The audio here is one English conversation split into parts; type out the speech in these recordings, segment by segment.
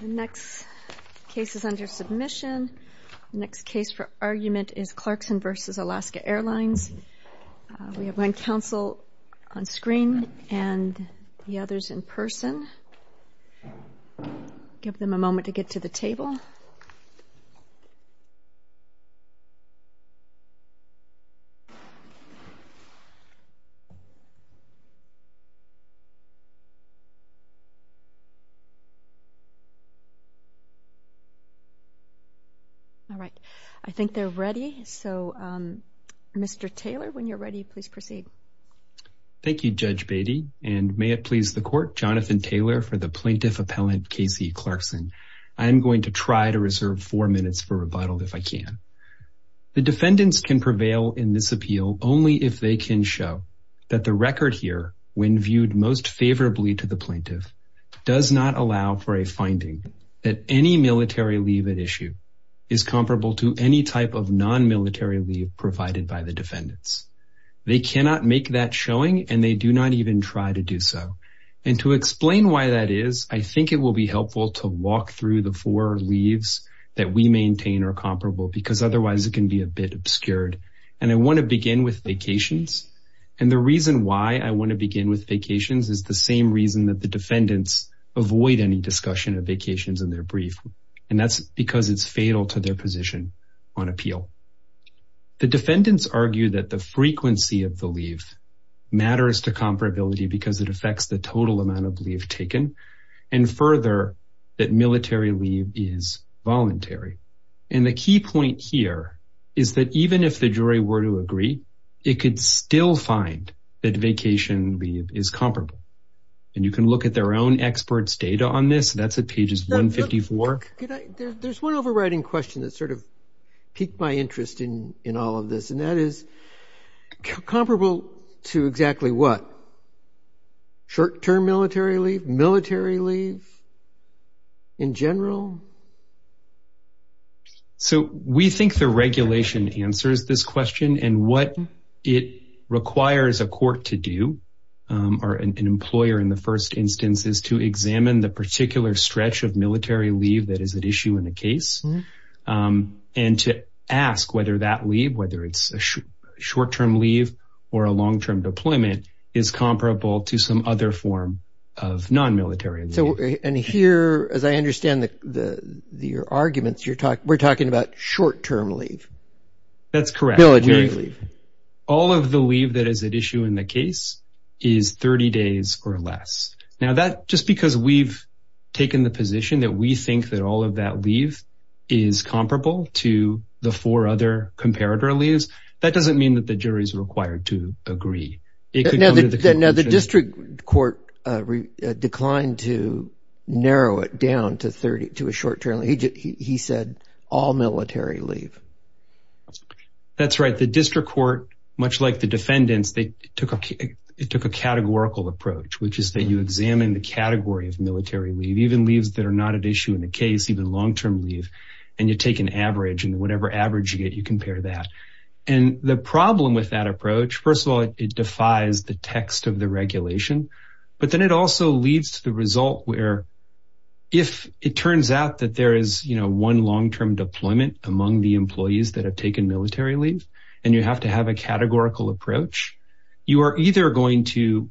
The next case is under submission. The next case for argument is Clarkson v. Alaska Airlines. We have one counsel on screen and the others in person. Give them a moment to get to the table. All right. I think they're ready. Mr. Taylor, when you're ready, please proceed. Thank you, Judge Beatty. And may it please the Court, Jonathan Taylor for the Plaintiff Appellant Casey Clarkson. I am going to try to reserve four minutes for rebuttal if I can. The defendants can prevail in this appeal only if they can show that the record here, when viewed most favorably to the plaintiff, does not allow for a finding that any military leave at issue is comparable to any type of non-military leave provided by the defendants. They cannot make that showing and they do not even try to do so. And to explain why that is, I think it will be helpful to walk through the four leaves that we maintain are comparable because otherwise it can be a bit obscured. And I want to begin with vacations. And the reason why I want to begin with vacations is the same reason that the defendants avoid any discussion of vacations in their brief. And that's because it's fatal to their position on appeal. The defendants argue that the frequency of the leave matters to comparability because it affects the total amount of leave taken and further, that military leave is voluntary. And the key point here is that even if the jury were to agree, it could still find that vacation leave is comparable. And you can look at their own experts' data on this. That's at pages 154. There's one overriding question that sort of piqued my interest in all of this, and that is comparable to exactly what? Short-term military leave? Military leave in general? So we think the regulation answers this question. And what it requires a court to do, or an employer in the first instance, is to examine the particular stretch of military leave that is at issue in the case and to ask whether that leave, whether it's a short-term leave or a long-term deployment, is comparable to some other form of non-military leave. And here, as I understand your arguments, we're talking about short-term leave. That's correct. Military leave. All of the leave that is at issue in the case is 30 days or less. Now, just because we've taken the position that we think that all of that leave is comparable to the four other comparator leaves, that doesn't mean that the jury is required to agree. Now, the district court declined to narrow it down to a short-term. He said all military leave. That's right. The district court, much like the defendants, it took a categorical approach, which is that you examine the category of military leave, even leaves that are not at issue in the case, even long-term leave, and you take an average, and whatever average you get, you compare that. And the problem with that approach, first of all, it defies the text of the regulation, but then it also leads to the result where if it turns out that there is one long-term deployment among the employees that have taken military leave and you have to have a categorical approach, you are either going to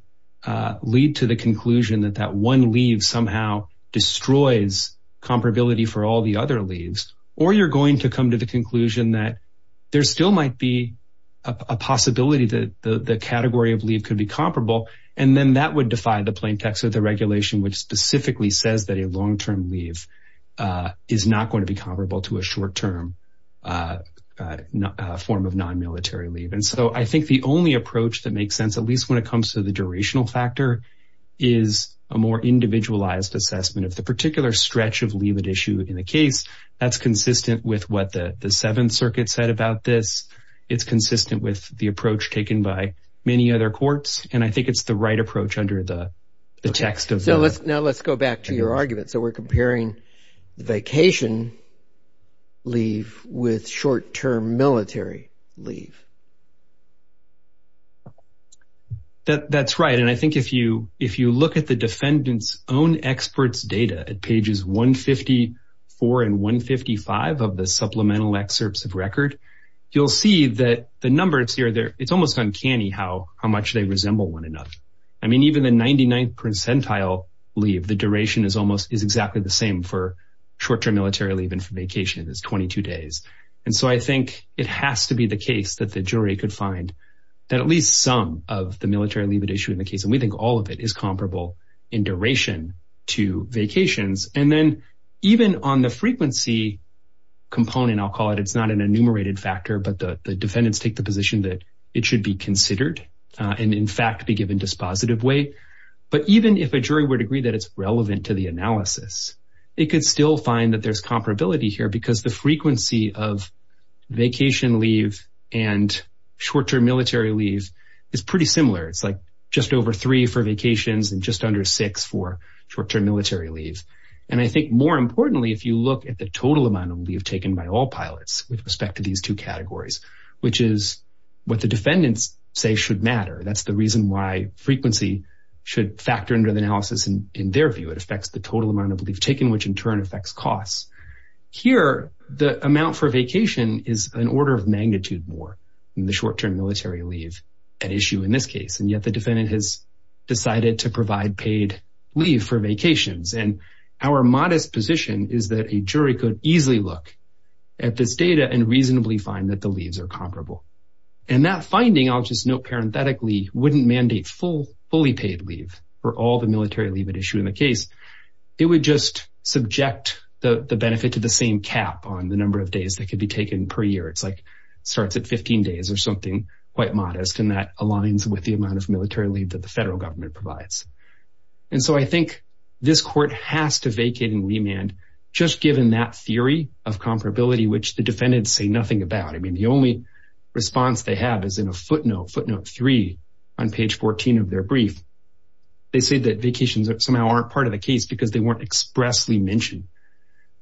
lead to the conclusion that that one leave somehow destroys comparability for all the other leaves, or you're going to come to the conclusion that there still might be a possibility that the category of leave could be comparable, and then that would defy the plain text of the regulation, which specifically says that a long-term leave is not going to be comparable to a short-term form of non-military leave. And so I think the only approach that makes sense, at least when it comes to the durational factor, is a more individualized assessment. If the particular stretch of leave at issue in the case, that's consistent with what the Seventh Circuit said about this, it's consistent with the approach taken by many other courts, and I think it's the right approach under the text of the… leave with short-term military leave. That's right, and I think if you look at the defendant's own expert's data at pages 154 and 155 of the supplemental excerpts of record, you'll see that the numbers here, it's almost uncanny how much they resemble one another. I mean, even the 99th percentile leave, the duration is exactly the same for short-term military leave and for vacation, it's 22 days. And so I think it has to be the case that the jury could find that at least some of the military leave at issue in the case, and we think all of it, is comparable in duration to vacations. And then even on the frequency component, I'll call it, it's not an enumerated factor, but the defendants take the position that it should be considered and in fact be given dispositive weight. But even if a jury would agree that it's relevant to the analysis, they could still find that there's comparability here because the frequency of vacation leave and short-term military leave is pretty similar. It's like just over three for vacations and just under six for short-term military leave. And I think more importantly, if you look at the total amount of leave taken by all pilots with respect to these two categories, which is what the defendants say should matter, that's the reason why frequency should factor into the analysis in their view. It affects the total amount of leave taken, which in turn affects costs. Here, the amount for vacation is an order of magnitude more than the short-term military leave at issue in this case, and yet the defendant has decided to provide paid leave for vacations. And our modest position is that a jury could easily look at this data and reasonably find that the leaves are comparable. And that finding, I'll just note parenthetically, wouldn't mandate fully paid leave for all the military leave at issue in the case. It would just subject the benefit to the same cap on the number of days that could be taken per year. It's like starts at 15 days or something quite modest, and that aligns with the amount of military leave that the federal government provides. And so I think this court has to vacate and remand just given that theory of comparability, which the defendants say nothing about. I mean, the only response they have is in a footnote, footnote 3 on page 14 of their brief. They say that vacations somehow aren't part of the case because they weren't expressly mentioned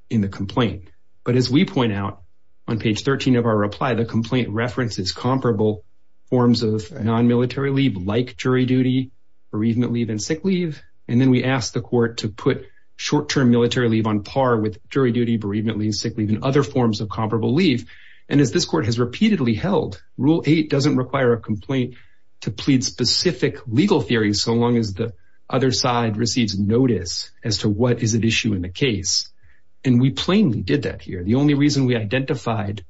in the complaint. But as we point out on page 13 of our reply, the complaint references comparable forms of non-military leave like jury duty, bereavement leave, and sick leave. And then we ask the court to put short-term military leave on par with jury duty, bereavement leave, sick leave, and other forms of comparable leave. And as this court has repeatedly held, Rule 8 doesn't require a complaint to plead specific legal theories so long as the other side receives notice as to what is at issue in the case. And we plainly did that here. The only reason we identified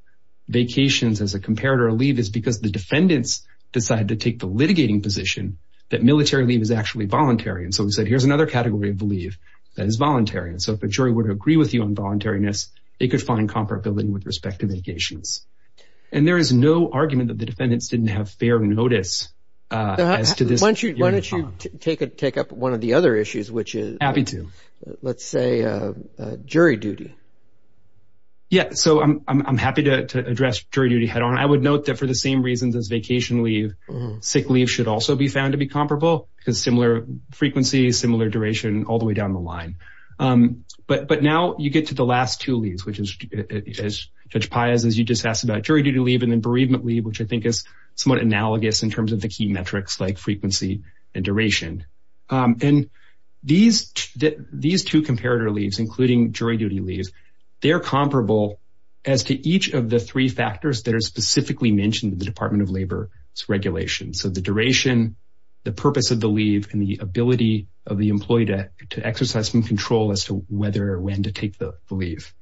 vacations as a comparator of leave is because the defendants decided to take the litigating position that military leave is actually voluntary. And so we said, here's another category of leave that is voluntary. And so if a jury would agree with you on voluntariness, they could find comparability with respect to vacations. And there is no argument that the defendants didn't have fair notice as to this. Why don't you take up one of the other issues, which is, let's say, jury duty. Yeah, so I'm happy to address jury duty head-on. I would note that for the same reasons as vacation leave, sick leave should also be found to be comparable because similar frequency, similar duration, all the way down the line. But now you get to the last two leaves, which is, as Judge Paez, as you just asked about jury duty leave and then bereavement leave, which I think is somewhat analogous in terms of the key metrics like frequency and duration. And these two comparator leaves, including jury duty leaves, they're comparable as to each of the three factors that are specifically mentioned in the Department of Labor's regulations. So the duration, the purpose of the leave, and the ability of the employee to exercise some control as to whether or when to take the leave.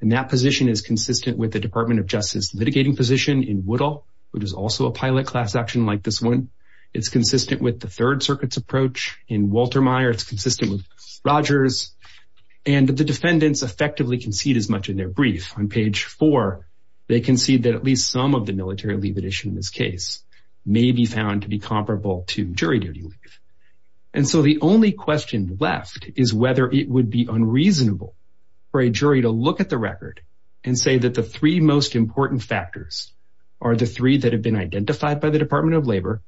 And that position is consistent with the Department of Justice litigating position in Woodall, which is also a pilot class action like this one. It's consistent with the Third Circuit's approach in Waltermeyer. It's consistent with Rogers. And the defendants effectively concede as much in their brief. On page four, they concede that at least some of the military leave addition in this case may be found to be comparable to jury duty leave. And so the only question left is whether it would be unreasonable for a jury to look at the record and say that the three most important factors are the three that have been identified by the Department of Labor,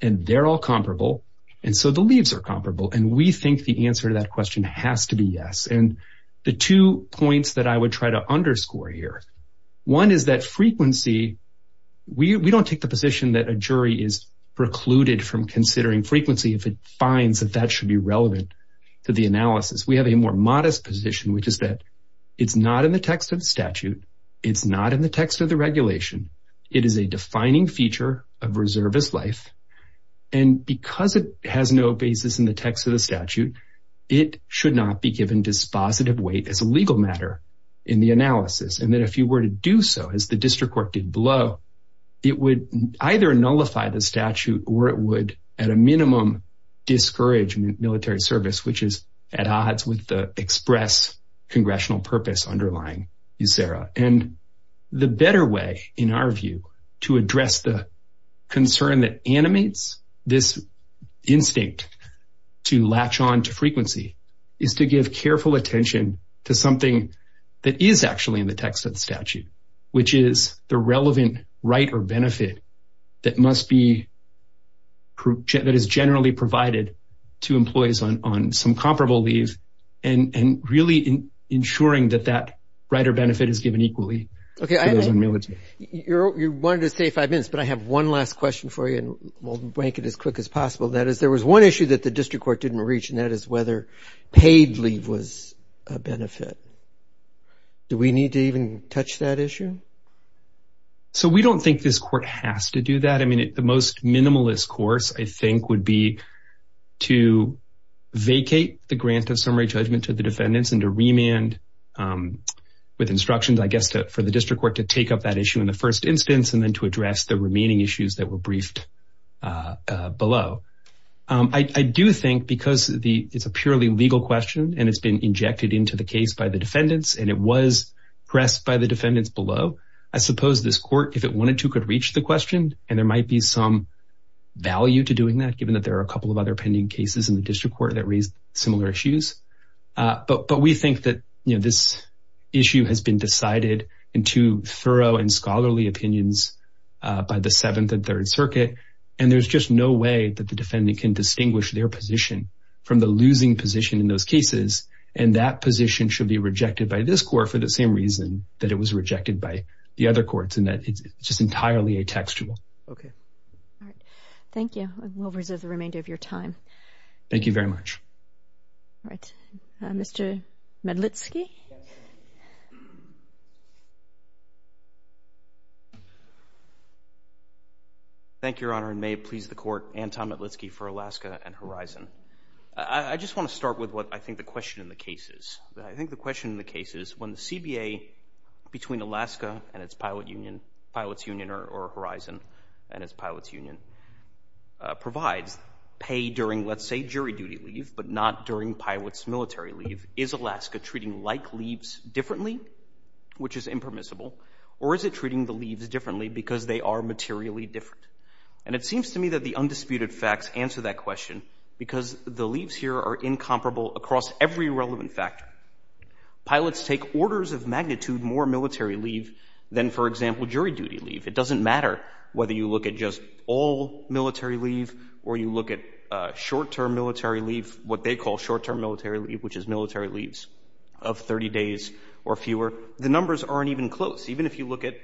and they're all comparable, and so the leaves are comparable. And we think the answer to that question has to be yes. And the two points that I would try to underscore here, one is that frequency, we don't take the position that a jury is precluded from considering frequency if it finds that that should be relevant to the analysis. We have a more modest position, which is that it's not in the text of the statute. It's not in the text of the regulation. It is a defining feature of reservist life. And because it has no basis in the text of the statute, it should not be given dispositive weight as a legal matter in the analysis, and that if you were to do so, as the district court did below, it would either nullify the statute or it would, at a minimum, discourage military service, which is at odds with the express congressional purpose underlying USERRA. And the better way, in our view, to address the concern that animates this instinct to latch on to frequency is to give careful attention to something that is actually in the text of the statute, which is the relevant right or benefit that is generally provided to employees on some comparable leave and really ensuring that that right or benefit is given equally to those in military. You wanted to say five minutes, but I have one last question for you, that is, there was one issue that the district court didn't reach, and that is whether paid leave was a benefit. Do we need to even touch that issue? So we don't think this court has to do that. I mean, the most minimalist course, I think, would be to vacate the grant of summary judgment to the defendants and to remand with instructions, I guess, for the district court to take up that issue in the first instance and then to address the remaining issues that were briefed below. I do think because it's a purely legal question and it's been injected into the case by the defendants and it was pressed by the defendants below, I suppose this court, if it wanted to, could reach the question, and there might be some value to doing that, given that there are a couple of other pending cases in the district court that raise similar issues. But we think that this issue has been decided into thorough and scholarly opinions by the Seventh and Third Circuit, and there's just no way that the defendant can distinguish their position from the losing position in those cases, and that position should be rejected by this court for the same reason that it was rejected by the other courts, and that it's just entirely atextual. Okay. All right. Thank you, and we'll reserve the remainder of your time. Thank you very much. All right. Mr. Medlitsky? Thank you, Your Honor, and may it please the court, Anton Medlitsky for Alaska and Horizon. I just want to start with what I think the question in the case is. I think the question in the case is when the CBA, between Alaska and its pilot union, or Horizon and its pilot's union, provides pay during, let's say, jury duty leave, but not during pilots' military leave, is Alaska treating like leaves differently, which is impermissible, or is it treating the leaves differently because they are materially different? And it seems to me that the undisputed facts answer that question because the leaves here are incomparable across every relevant factor. Pilots take orders of magnitude more military leave than, for example, jury duty leave. It doesn't matter whether you look at just all military leave or you look at short-term military leave, what they call short-term military leave, which is military leaves of 30 days or fewer. The numbers aren't even close. Even if you look at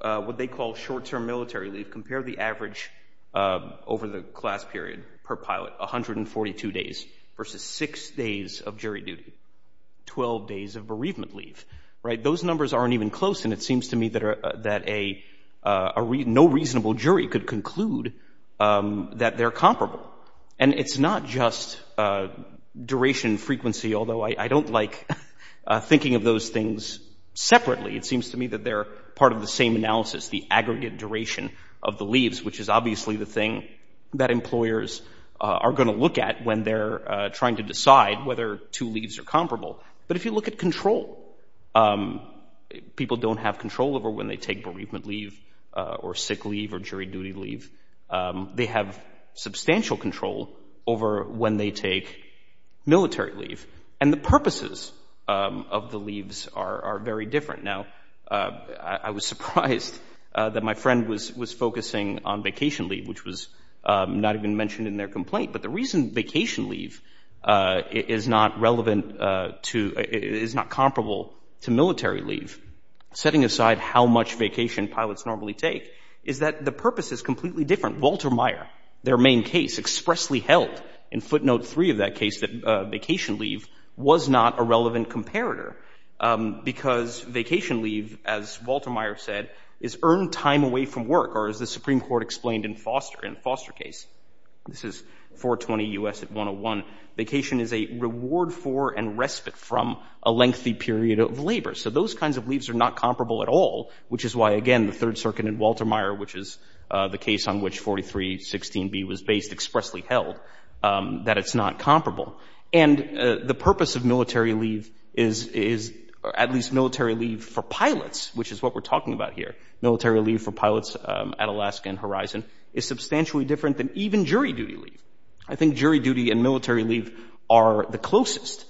what they call short-term military leave, compare the average over the class period per pilot, 142 days versus 6 days of jury duty, 12 days of bereavement leave. Those numbers aren't even close, and it seems to me that no reasonable jury could conclude that they're comparable. And it's not just duration, frequency, although I don't like thinking of those things separately. It seems to me that they're part of the same analysis, the aggregate duration of the leaves, which is obviously the thing that employers are going to look at when they're trying to decide whether two leaves are comparable. But if you look at control, people don't have control over when they take bereavement leave or sick leave or jury duty leave. They have substantial control over when they take military leave. And the purposes of the leaves are very different. Now, I was surprised that my friend was focusing on vacation leave, which was not even mentioned in their complaint. But the reason vacation leave is not relevant to – is not comparable to military leave, setting aside how much vacation pilots normally take, is that the purpose is completely different. Walter Meyer, their main case, expressly held in footnote 3 of that case that vacation leave was not a relevant comparator because vacation leave, as Walter Meyer said, is earned time away from work, or as the Supreme Court explained in Foster case. This is 420 U.S. 101. Vacation is a reward for and respite from a lengthy period of labor. So those kinds of leaves are not comparable at all, which is why, again, the Third Circuit and Walter Meyer, which is the case on which 4316b was based, expressly held that it's not comparable. And the purpose of military leave is – at least military leave for pilots, which is what we're talking about here. Military leave for pilots at Alaska and Horizon is substantially different than even jury duty leave. I think jury duty and military leave are the closest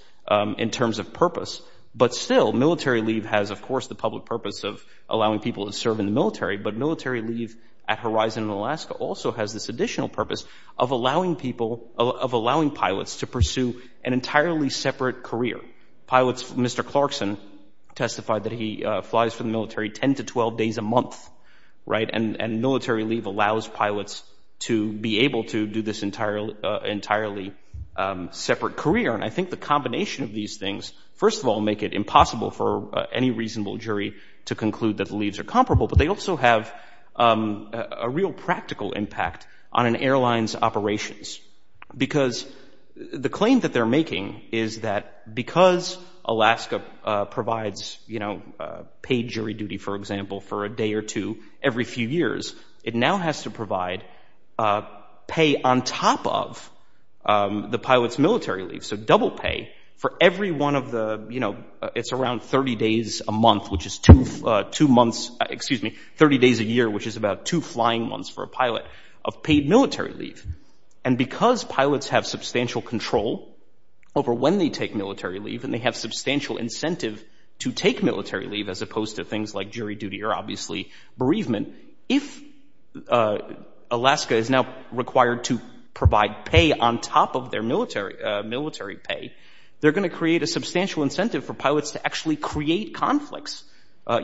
in terms of purpose. But still, military leave has, of course, the public purpose of allowing people to serve in the military, but military leave at Horizon and Alaska also has this additional purpose of allowing people – of allowing pilots to pursue an entirely separate career. Pilots – Mr. Clarkson testified that he flies for the military 10 to 12 days a month, right, and military leave allows pilots to be able to do this entirely separate career. And I think the combination of these things, first of all, make it impossible for any reasonable jury to conclude that leaves are comparable, but they also have a real practical impact on an airline's operations, because the claim that they're making is that because Alaska provides, you know, paid jury duty, for example, for a day or two every few years, it now has to provide pay on top of the pilot's military leave. So double pay for every one of the – you know, it's around 30 days a month, which is two months – excuse me, 30 days a year, which is about two flying months for a pilot of paid military leave. And because pilots have substantial control over when they take military leave and they have substantial incentive to take military leave as opposed to things like jury duty or obviously bereavement, if Alaska is now required to provide pay on top of their military pay, they're going to create a substantial incentive for pilots to actually create conflicts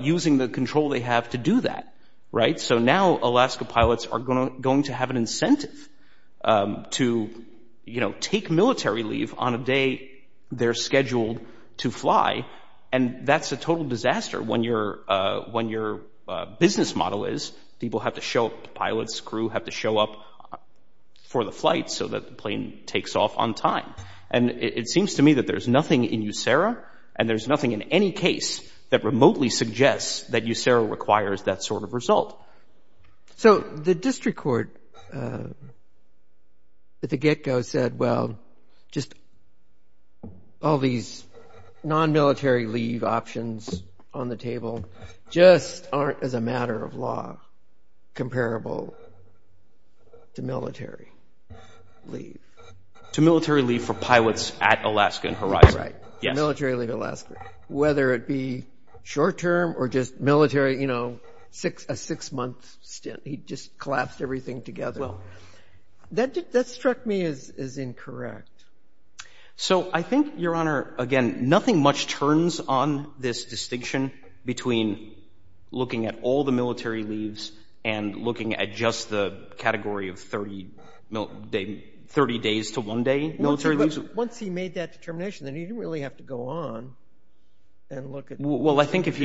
using the control they have to do that, right? And so now Alaska pilots are going to have an incentive to, you know, take military leave on a day they're scheduled to fly, and that's a total disaster when your business model is people have to show up, the pilot's crew have to show up for the flight so that the plane takes off on time. And it seems to me that there's nothing in USERRA and there's nothing in any case that remotely suggests that USERRA requires that sort of result. So the district court at the get-go said, well, just all these non-military leave options on the table just aren't as a matter of law comparable to military leave. To military leave for pilots at Alaska and Horizon. Right, military leave Alaska, whether it be short-term or just military, you know, a six-month stint. He just collapsed everything together. Well, that struck me as incorrect. So I think, Your Honor, again, nothing much turns on this distinction between looking at all the military leaves and looking at just the category of 30 days to one day military leave. Once he made that determination, then he didn't really have to go on and look at the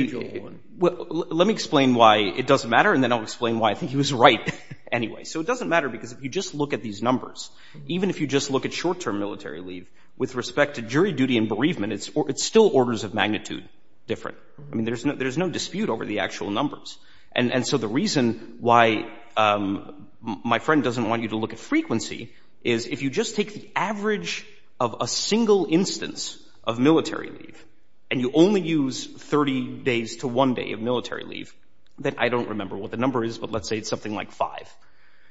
usual one. Well, let me explain why it doesn't matter, and then I'll explain why I think he was right anyway. So it doesn't matter because if you just look at these numbers, even if you just look at short-term military leave, with respect to jury duty and bereavement, it's still orders of magnitude different. I mean, there's no dispute over the actual numbers. And so the reason why my friend doesn't want you to look at frequency is if you just take the average of a single instance of military leave and you only use 30 days to one day of military leave, then I don't remember what the number is, but let's say it's something like five.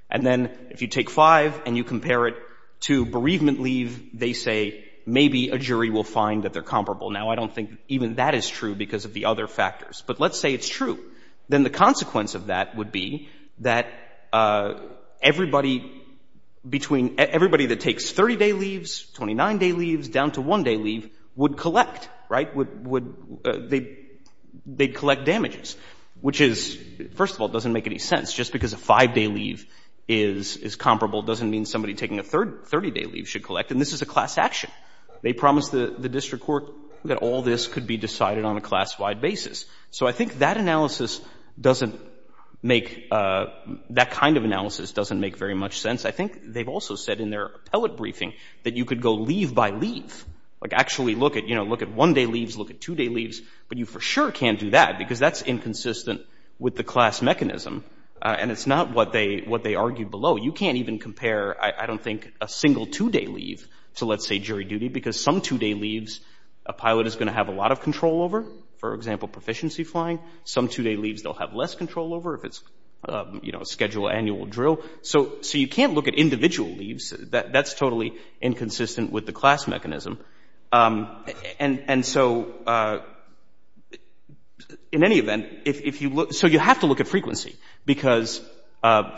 And then if you take five and you compare it to bereavement leave, they say maybe a jury will find that they're comparable. Now, I don't think even that is true because of the other factors. But let's say it's true. Then the consequence of that would be that everybody between everybody that takes 30-day leaves, 29-day leaves, down to one-day leave would collect, right? They'd collect damages, which is, first of all, doesn't make any sense. Just because a five-day leave is comparable doesn't mean somebody taking a 30-day leave should collect. And this is a class action. They promised the district court that all this could be decided on a class-wide basis. So I think that analysis doesn't make, that kind of analysis doesn't make very much sense. I think they've also said in their appellate briefing that you could go leave by leave, like actually look at one-day leaves, look at two-day leaves, but you for sure can't do that because that's inconsistent with the class mechanism. And it's not what they argue below. You can't even compare, I don't think, a single two-day leave to, let's say, jury duty because some two-day leaves a pilot is going to have a lot of control over, for example, proficiency flying. Some two-day leaves they'll have less control over if it's, you know, schedule annual drill. So you can't look at individual leaves. That's totally inconsistent with the class mechanism. And so in any event, if you look, so you have to look at frequency because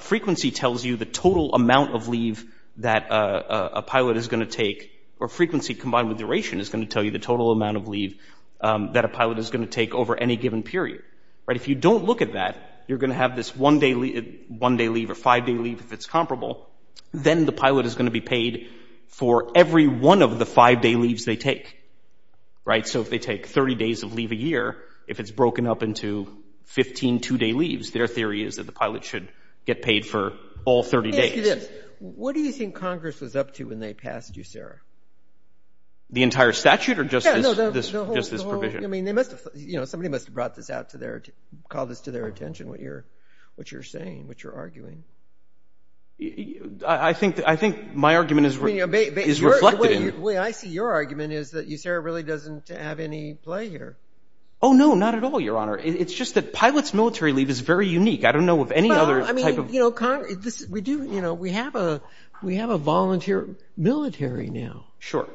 frequency tells you the total amount of leave that a pilot is going to take or frequency combined with duration is going to tell you the total amount of leave that a pilot is going to take over any given period. If you don't look at that, you're going to have this one-day leave or five-day leave if it's comparable. Then the pilot is going to be paid for every one of the five-day leaves they take. So if they take 30 days of leave a year, if it's broken up into 15 two-day leaves, their theory is that the pilot should get paid for all 30 days. Let me ask you this. What do you think Congress was up to when they passed USERRA? The entire statute or just this provision? Somebody must have brought this out to their attention, called this to their attention, what you're saying, what you're arguing. I think my argument is reflected in it. The way I see your argument is that USERRA really doesn't have any play here. Oh, no, not at all, Your Honor. It's just that pilots' military leave is very unique. I don't know of any other type of— We have a volunteer military now. Sure.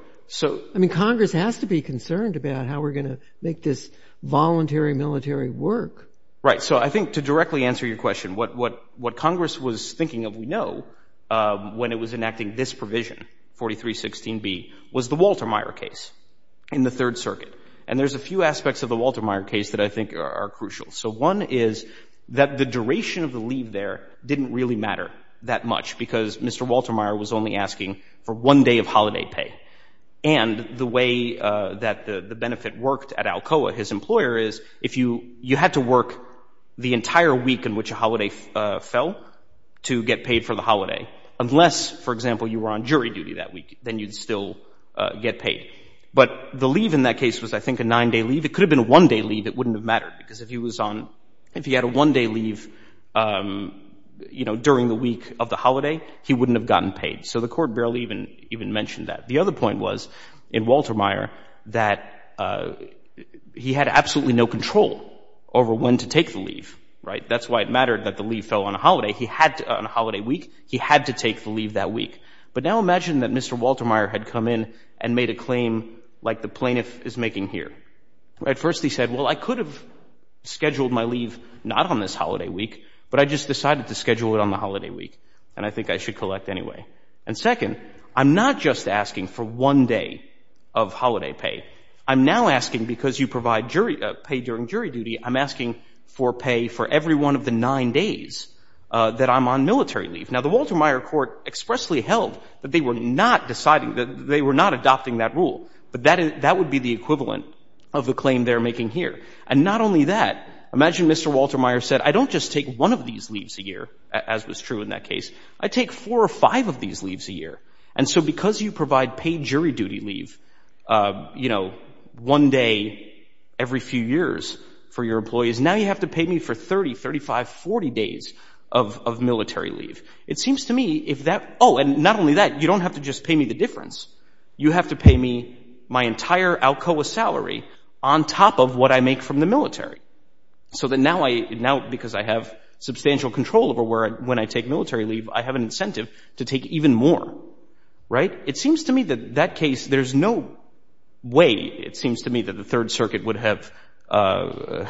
I mean, Congress has to be concerned about how we're going to make this voluntary military work. Right. So I think to directly answer your question, what Congress was thinking of, we know, when it was enacting this provision, 4316B, was the Walter Meyer case in the Third Circuit. And there's a few aspects of the Walter Meyer case that I think are crucial. So one is that the duration of the leave there didn't really matter that much because Mr. Walter Meyer was only asking for one day of holiday pay. And the way that the benefit worked at Alcoa, his employer, is you had to work the entire week in which a holiday fell to get paid for the holiday. Unless, for example, you were on jury duty that week, then you'd still get paid. But the leave in that case was, I think, a nine-day leave. It could have been a one-day leave. It wouldn't have mattered because if he was on—if he had a one-day leave, you know, during the week of the holiday, he wouldn't have gotten paid. So the Court barely even mentioned that. The other point was, in Walter Meyer, that he had absolutely no control over when to take the leave. Right. That's why it mattered that the leave fell on a holiday. He had to—on a holiday week, he had to take the leave that week. But now imagine that Mr. Walter Meyer had come in and made a claim like the plaintiff is making here. At first, he said, well, I could have scheduled my leave not on this holiday week, but I just decided to schedule it on the holiday week, and I think I should collect anyway. And second, I'm not just asking for one day of holiday pay. I'm now asking because you provide jury—pay during jury duty, I'm asking for pay for every one of the nine days that I'm on military leave. Now, the Walter Meyer Court expressly held that they were not deciding—that they were not adopting that rule. But that would be the equivalent of the claim they're making here. And not only that, imagine Mr. Walter Meyer said, I don't just take one of these leaves a year, as was true in that case. I take four or five of these leaves a year. And so because you provide pay jury duty leave, you know, one day every few years for your employees, now you have to pay me for 30, 35, 40 days of military leave. It seems to me if that—oh, and not only that, you don't have to just pay me the difference. You have to pay me my entire Alcoa salary on top of what I make from the military. So that now I—now because I have substantial control over when I take military leave, I have an incentive to take even more. Right? It seems to me that that case—there's no way, it seems to me, that the Third Circuit would have allowed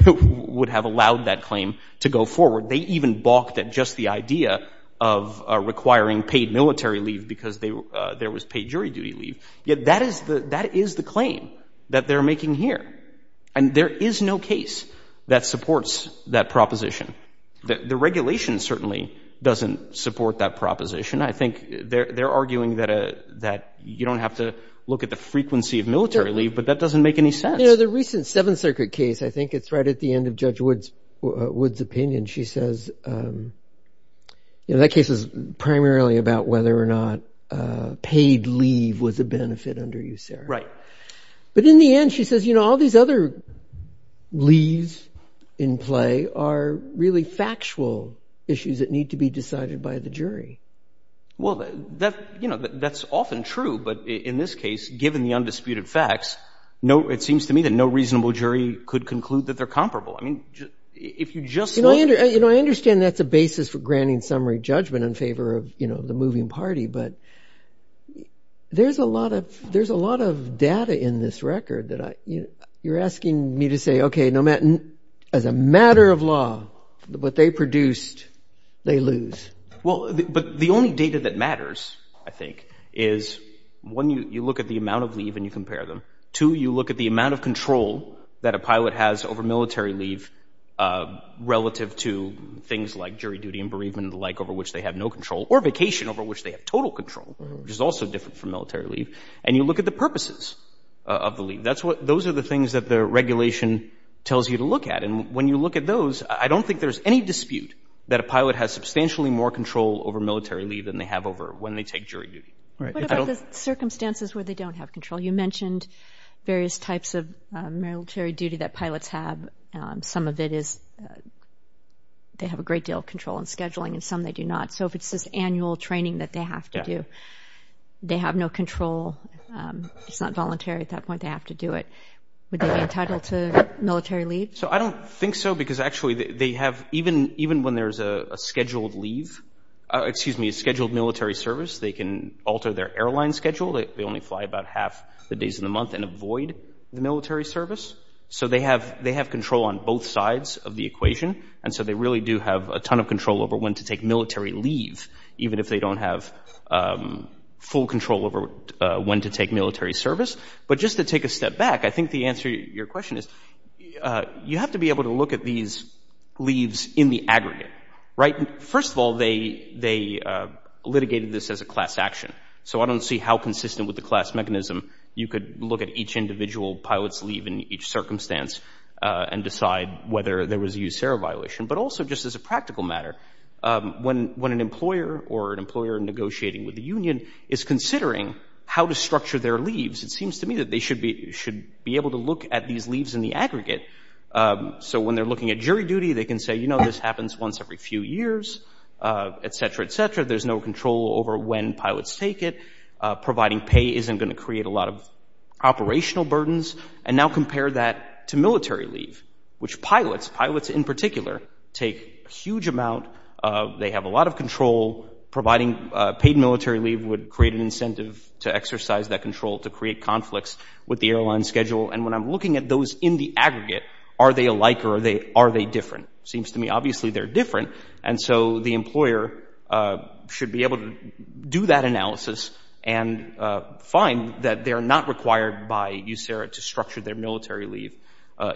that claim to go forward. They even balked at just the idea of requiring paid military leave because there was pay jury duty leave. Yet that is the claim that they're making here. And there is no case that supports that proposition. The regulation certainly doesn't support that proposition. I think they're arguing that you don't have to look at the frequency of military leave, but that doesn't make any sense. You know, the recent Seventh Circuit case, I think it's right at the end of Judge Wood's opinion. She says, you know, that case is primarily about whether or not paid leave was a benefit under USERRA. Right. But in the end, she says, you know, all these other leaves in play are really factual issues that need to be decided by the jury. Well, you know, that's often true. But in this case, given the undisputed facts, it seems to me that no reasonable jury could conclude that they're comparable. I mean, if you just look— You know, I understand that's a basis for granting summary judgment in favor of, you know, the moving party. But there's a lot of data in this record that you're asking me to say, okay, as a matter of law, what they produced, they lose. Well, but the only data that matters, I think, is, one, you look at the amount of leave and you compare them. Two, you look at the amount of control that a pilot has over military leave relative to things like jury duty and bereavement and the like over which they have no control, or vacation over which they have total control, which is also different from military leave. And you look at the purposes of the leave. Those are the things that the regulation tells you to look at. And when you look at those, I don't think there's any dispute that a pilot has substantially more control over military leave than they have over when they take jury duty. What about the circumstances where they don't have control? You mentioned various types of military duty that pilots have. Some of it is they have a great deal of control in scheduling, and some they do not. So if it's this annual training that they have to do, they have no control. It's not voluntary at that point. They have to do it. Would they be entitled to military leave? So I don't think so because actually they have, even when there's a scheduled military service, they can alter their airline schedule. They only fly about half the days of the month and avoid the military service. So they have control on both sides of the equation, and so they really do have a ton of control over when to take military leave, even if they don't have full control over when to take military service. But just to take a step back, I think the answer to your question is, you have to be able to look at these leaves in the aggregate, right? First of all, they litigated this as a class action. So I don't see how consistent with the class mechanism you could look at each individual pilot's leave in each circumstance and decide whether there was a USARA violation. But also just as a practical matter, when an employer or an employer negotiating with the union is considering how to structure their leaves, it seems to me that they should be able to look at these leaves in the aggregate. So when they're looking at jury duty, they can say, you know, this happens once every few years, etc., etc. There's no control over when pilots take it. Providing pay isn't going to create a lot of operational burdens. And now compare that to military leave, which pilots, pilots in particular, take a huge amount. They have a lot of control. Providing paid military leave would create an incentive to exercise that control to create conflicts with the airline schedule. And when I'm looking at those in the aggregate, are they alike or are they different? It seems to me, obviously, they're different. And so the employer should be able to do that analysis and find that they're not required by USARA to structure their military leave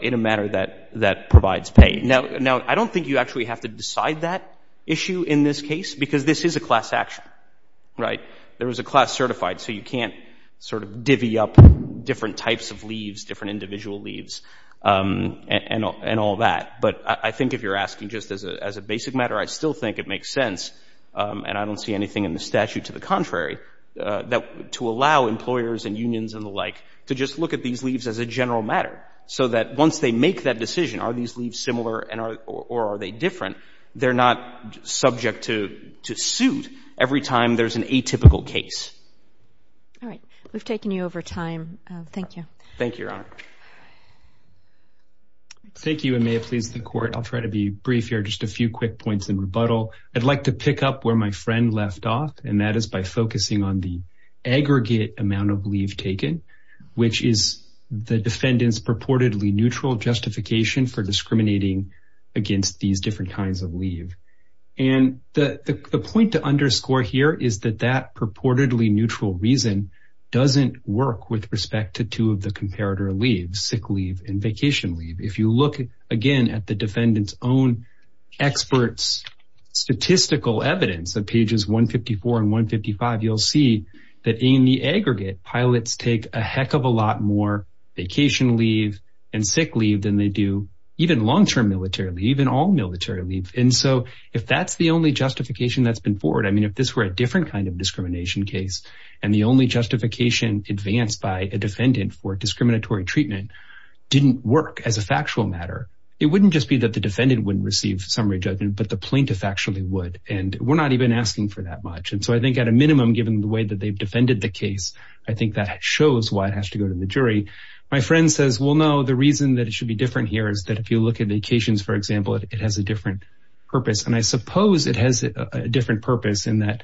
in a manner that provides pay. Now, I don't think you actually have to decide that issue in this case because this is a class action, right? There is a class certified, so you can't sort of divvy up different types of leaves, different individual leaves, and all that. But I think if you're asking just as a basic matter, I still think it makes sense, and I don't see anything in the statute to the contrary, to allow employers and unions and the like to just look at these leaves as a general matter so that once they make that decision, are these leaves similar or are they different, they're not subject to suit every time there's an atypical case. All right. We've taken you over time. Thank you. Thank you, Your Honor. Thank you, and may it please the Court, I'll try to be brief here, just a few quick points in rebuttal. I'd like to pick up where my friend left off, and that is by focusing on the aggregate amount of leave taken, which is the defendant's purportedly neutral justification for discriminating against these different kinds of leave. And the point to underscore here is that that purportedly neutral reason doesn't work with respect to two of the comparator leaves, sick leave and vacation leave. If you look, again, at the defendant's own experts' statistical evidence of pages 154 and 155, you'll see that in the aggregate, pilots take a heck of a lot more vacation leave and sick leave than they do even long-term military leave, even all-military leave. And so if that's the only justification that's been forward, I mean, if this were a different kind of discrimination case and the only justification advanced by a defendant for discriminatory treatment didn't work as a factual matter, it wouldn't just be that the defendant wouldn't receive summary judgment, but the plaintiff actually would, and we're not even asking for that much. And so I think at a minimum, given the way that they've defended the case, I think that shows why it has to go to the jury. My friend says, well, no, the reason that it should be different here is that if you look at vacations, for example, it has a different purpose. And I suppose it has a different purpose in that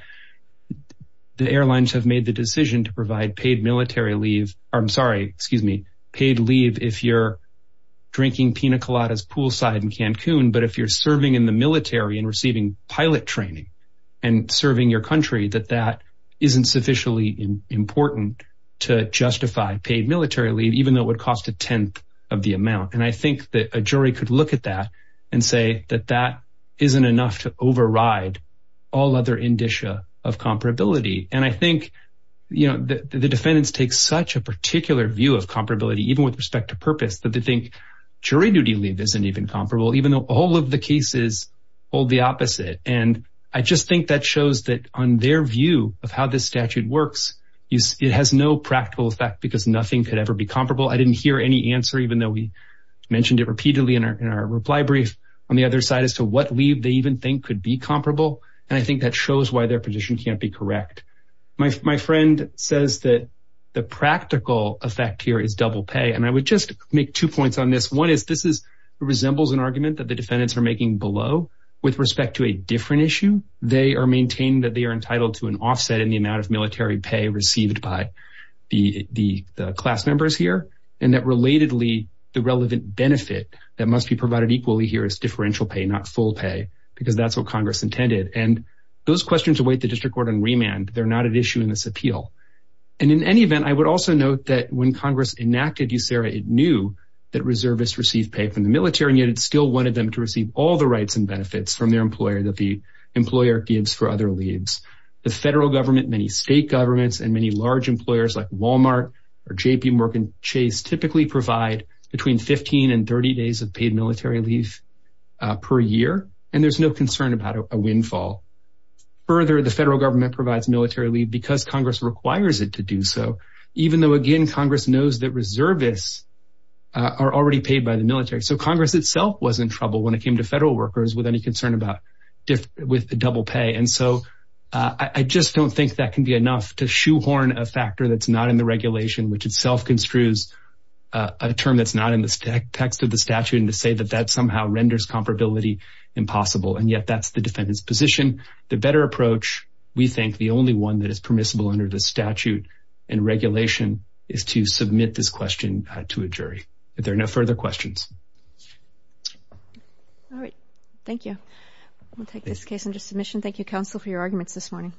the airlines have made the decision to provide paid military leave. I'm sorry, excuse me, paid leave if you're drinking pina coladas poolside in Cancun, but if you're serving in the military and receiving pilot training and serving your country, that that isn't sufficiently important to justify paid military leave, even though it would cost a tenth of the amount. And I think that a jury could look at that and say that that isn't enough to override all other indicia of comparability. And I think, you know, the defendants take such a particular view of comparability, even with respect to purpose, that they think jury duty leave isn't even comparable, even though all of the cases hold the opposite. And I just think that shows that on their view of how this statute works, it has no practical effect because nothing could ever be comparable. I didn't hear any answer, even though we mentioned it repeatedly in our reply brief, on the other side as to what leave they even think could be comparable. And I think that shows why their position can't be correct. My friend says that the practical effect here is double pay. And I would just make two points on this. One is this resembles an argument that the defendants are making below with respect to a different issue. They are maintaining that they are entitled to an offset in the amount of military pay received by the class members here, and that relatedly the relevant benefit that must be provided equally here is differential pay, not full pay, because that's what Congress intended. And those questions await the district court on remand. They're not an issue in this appeal. And in any event, I would also note that when Congress enacted USERRA, it knew that reservists received pay from the military, and yet it still wanted them to receive all the rights and benefits from their employer that the employer gives for other leaves. The federal government, many state governments, and many large employers like Walmart or JPMorgan Chase typically provide between 15 and 30 days of paid military leave per year, and there's no concern about a windfall. Further, the federal government provides military leave because Congress requires it to do so, even though, again, Congress knows that reservists are already paid by the military. So Congress itself was in trouble when it came to federal workers with any concern about double pay. And so I just don't think that can be enough to shoehorn a factor that's not in the regulation, which itself construes a term that's not in the text of the statute, and to say that that somehow renders comparability impossible. And yet that's the defendant's position. The better approach, we think the only one that is permissible under the statute and regulation, is to submit this question to a jury. If there are no further questions. All right. Thank you. We'll take this case under submission. Thank you, counsel, for your arguments this morning.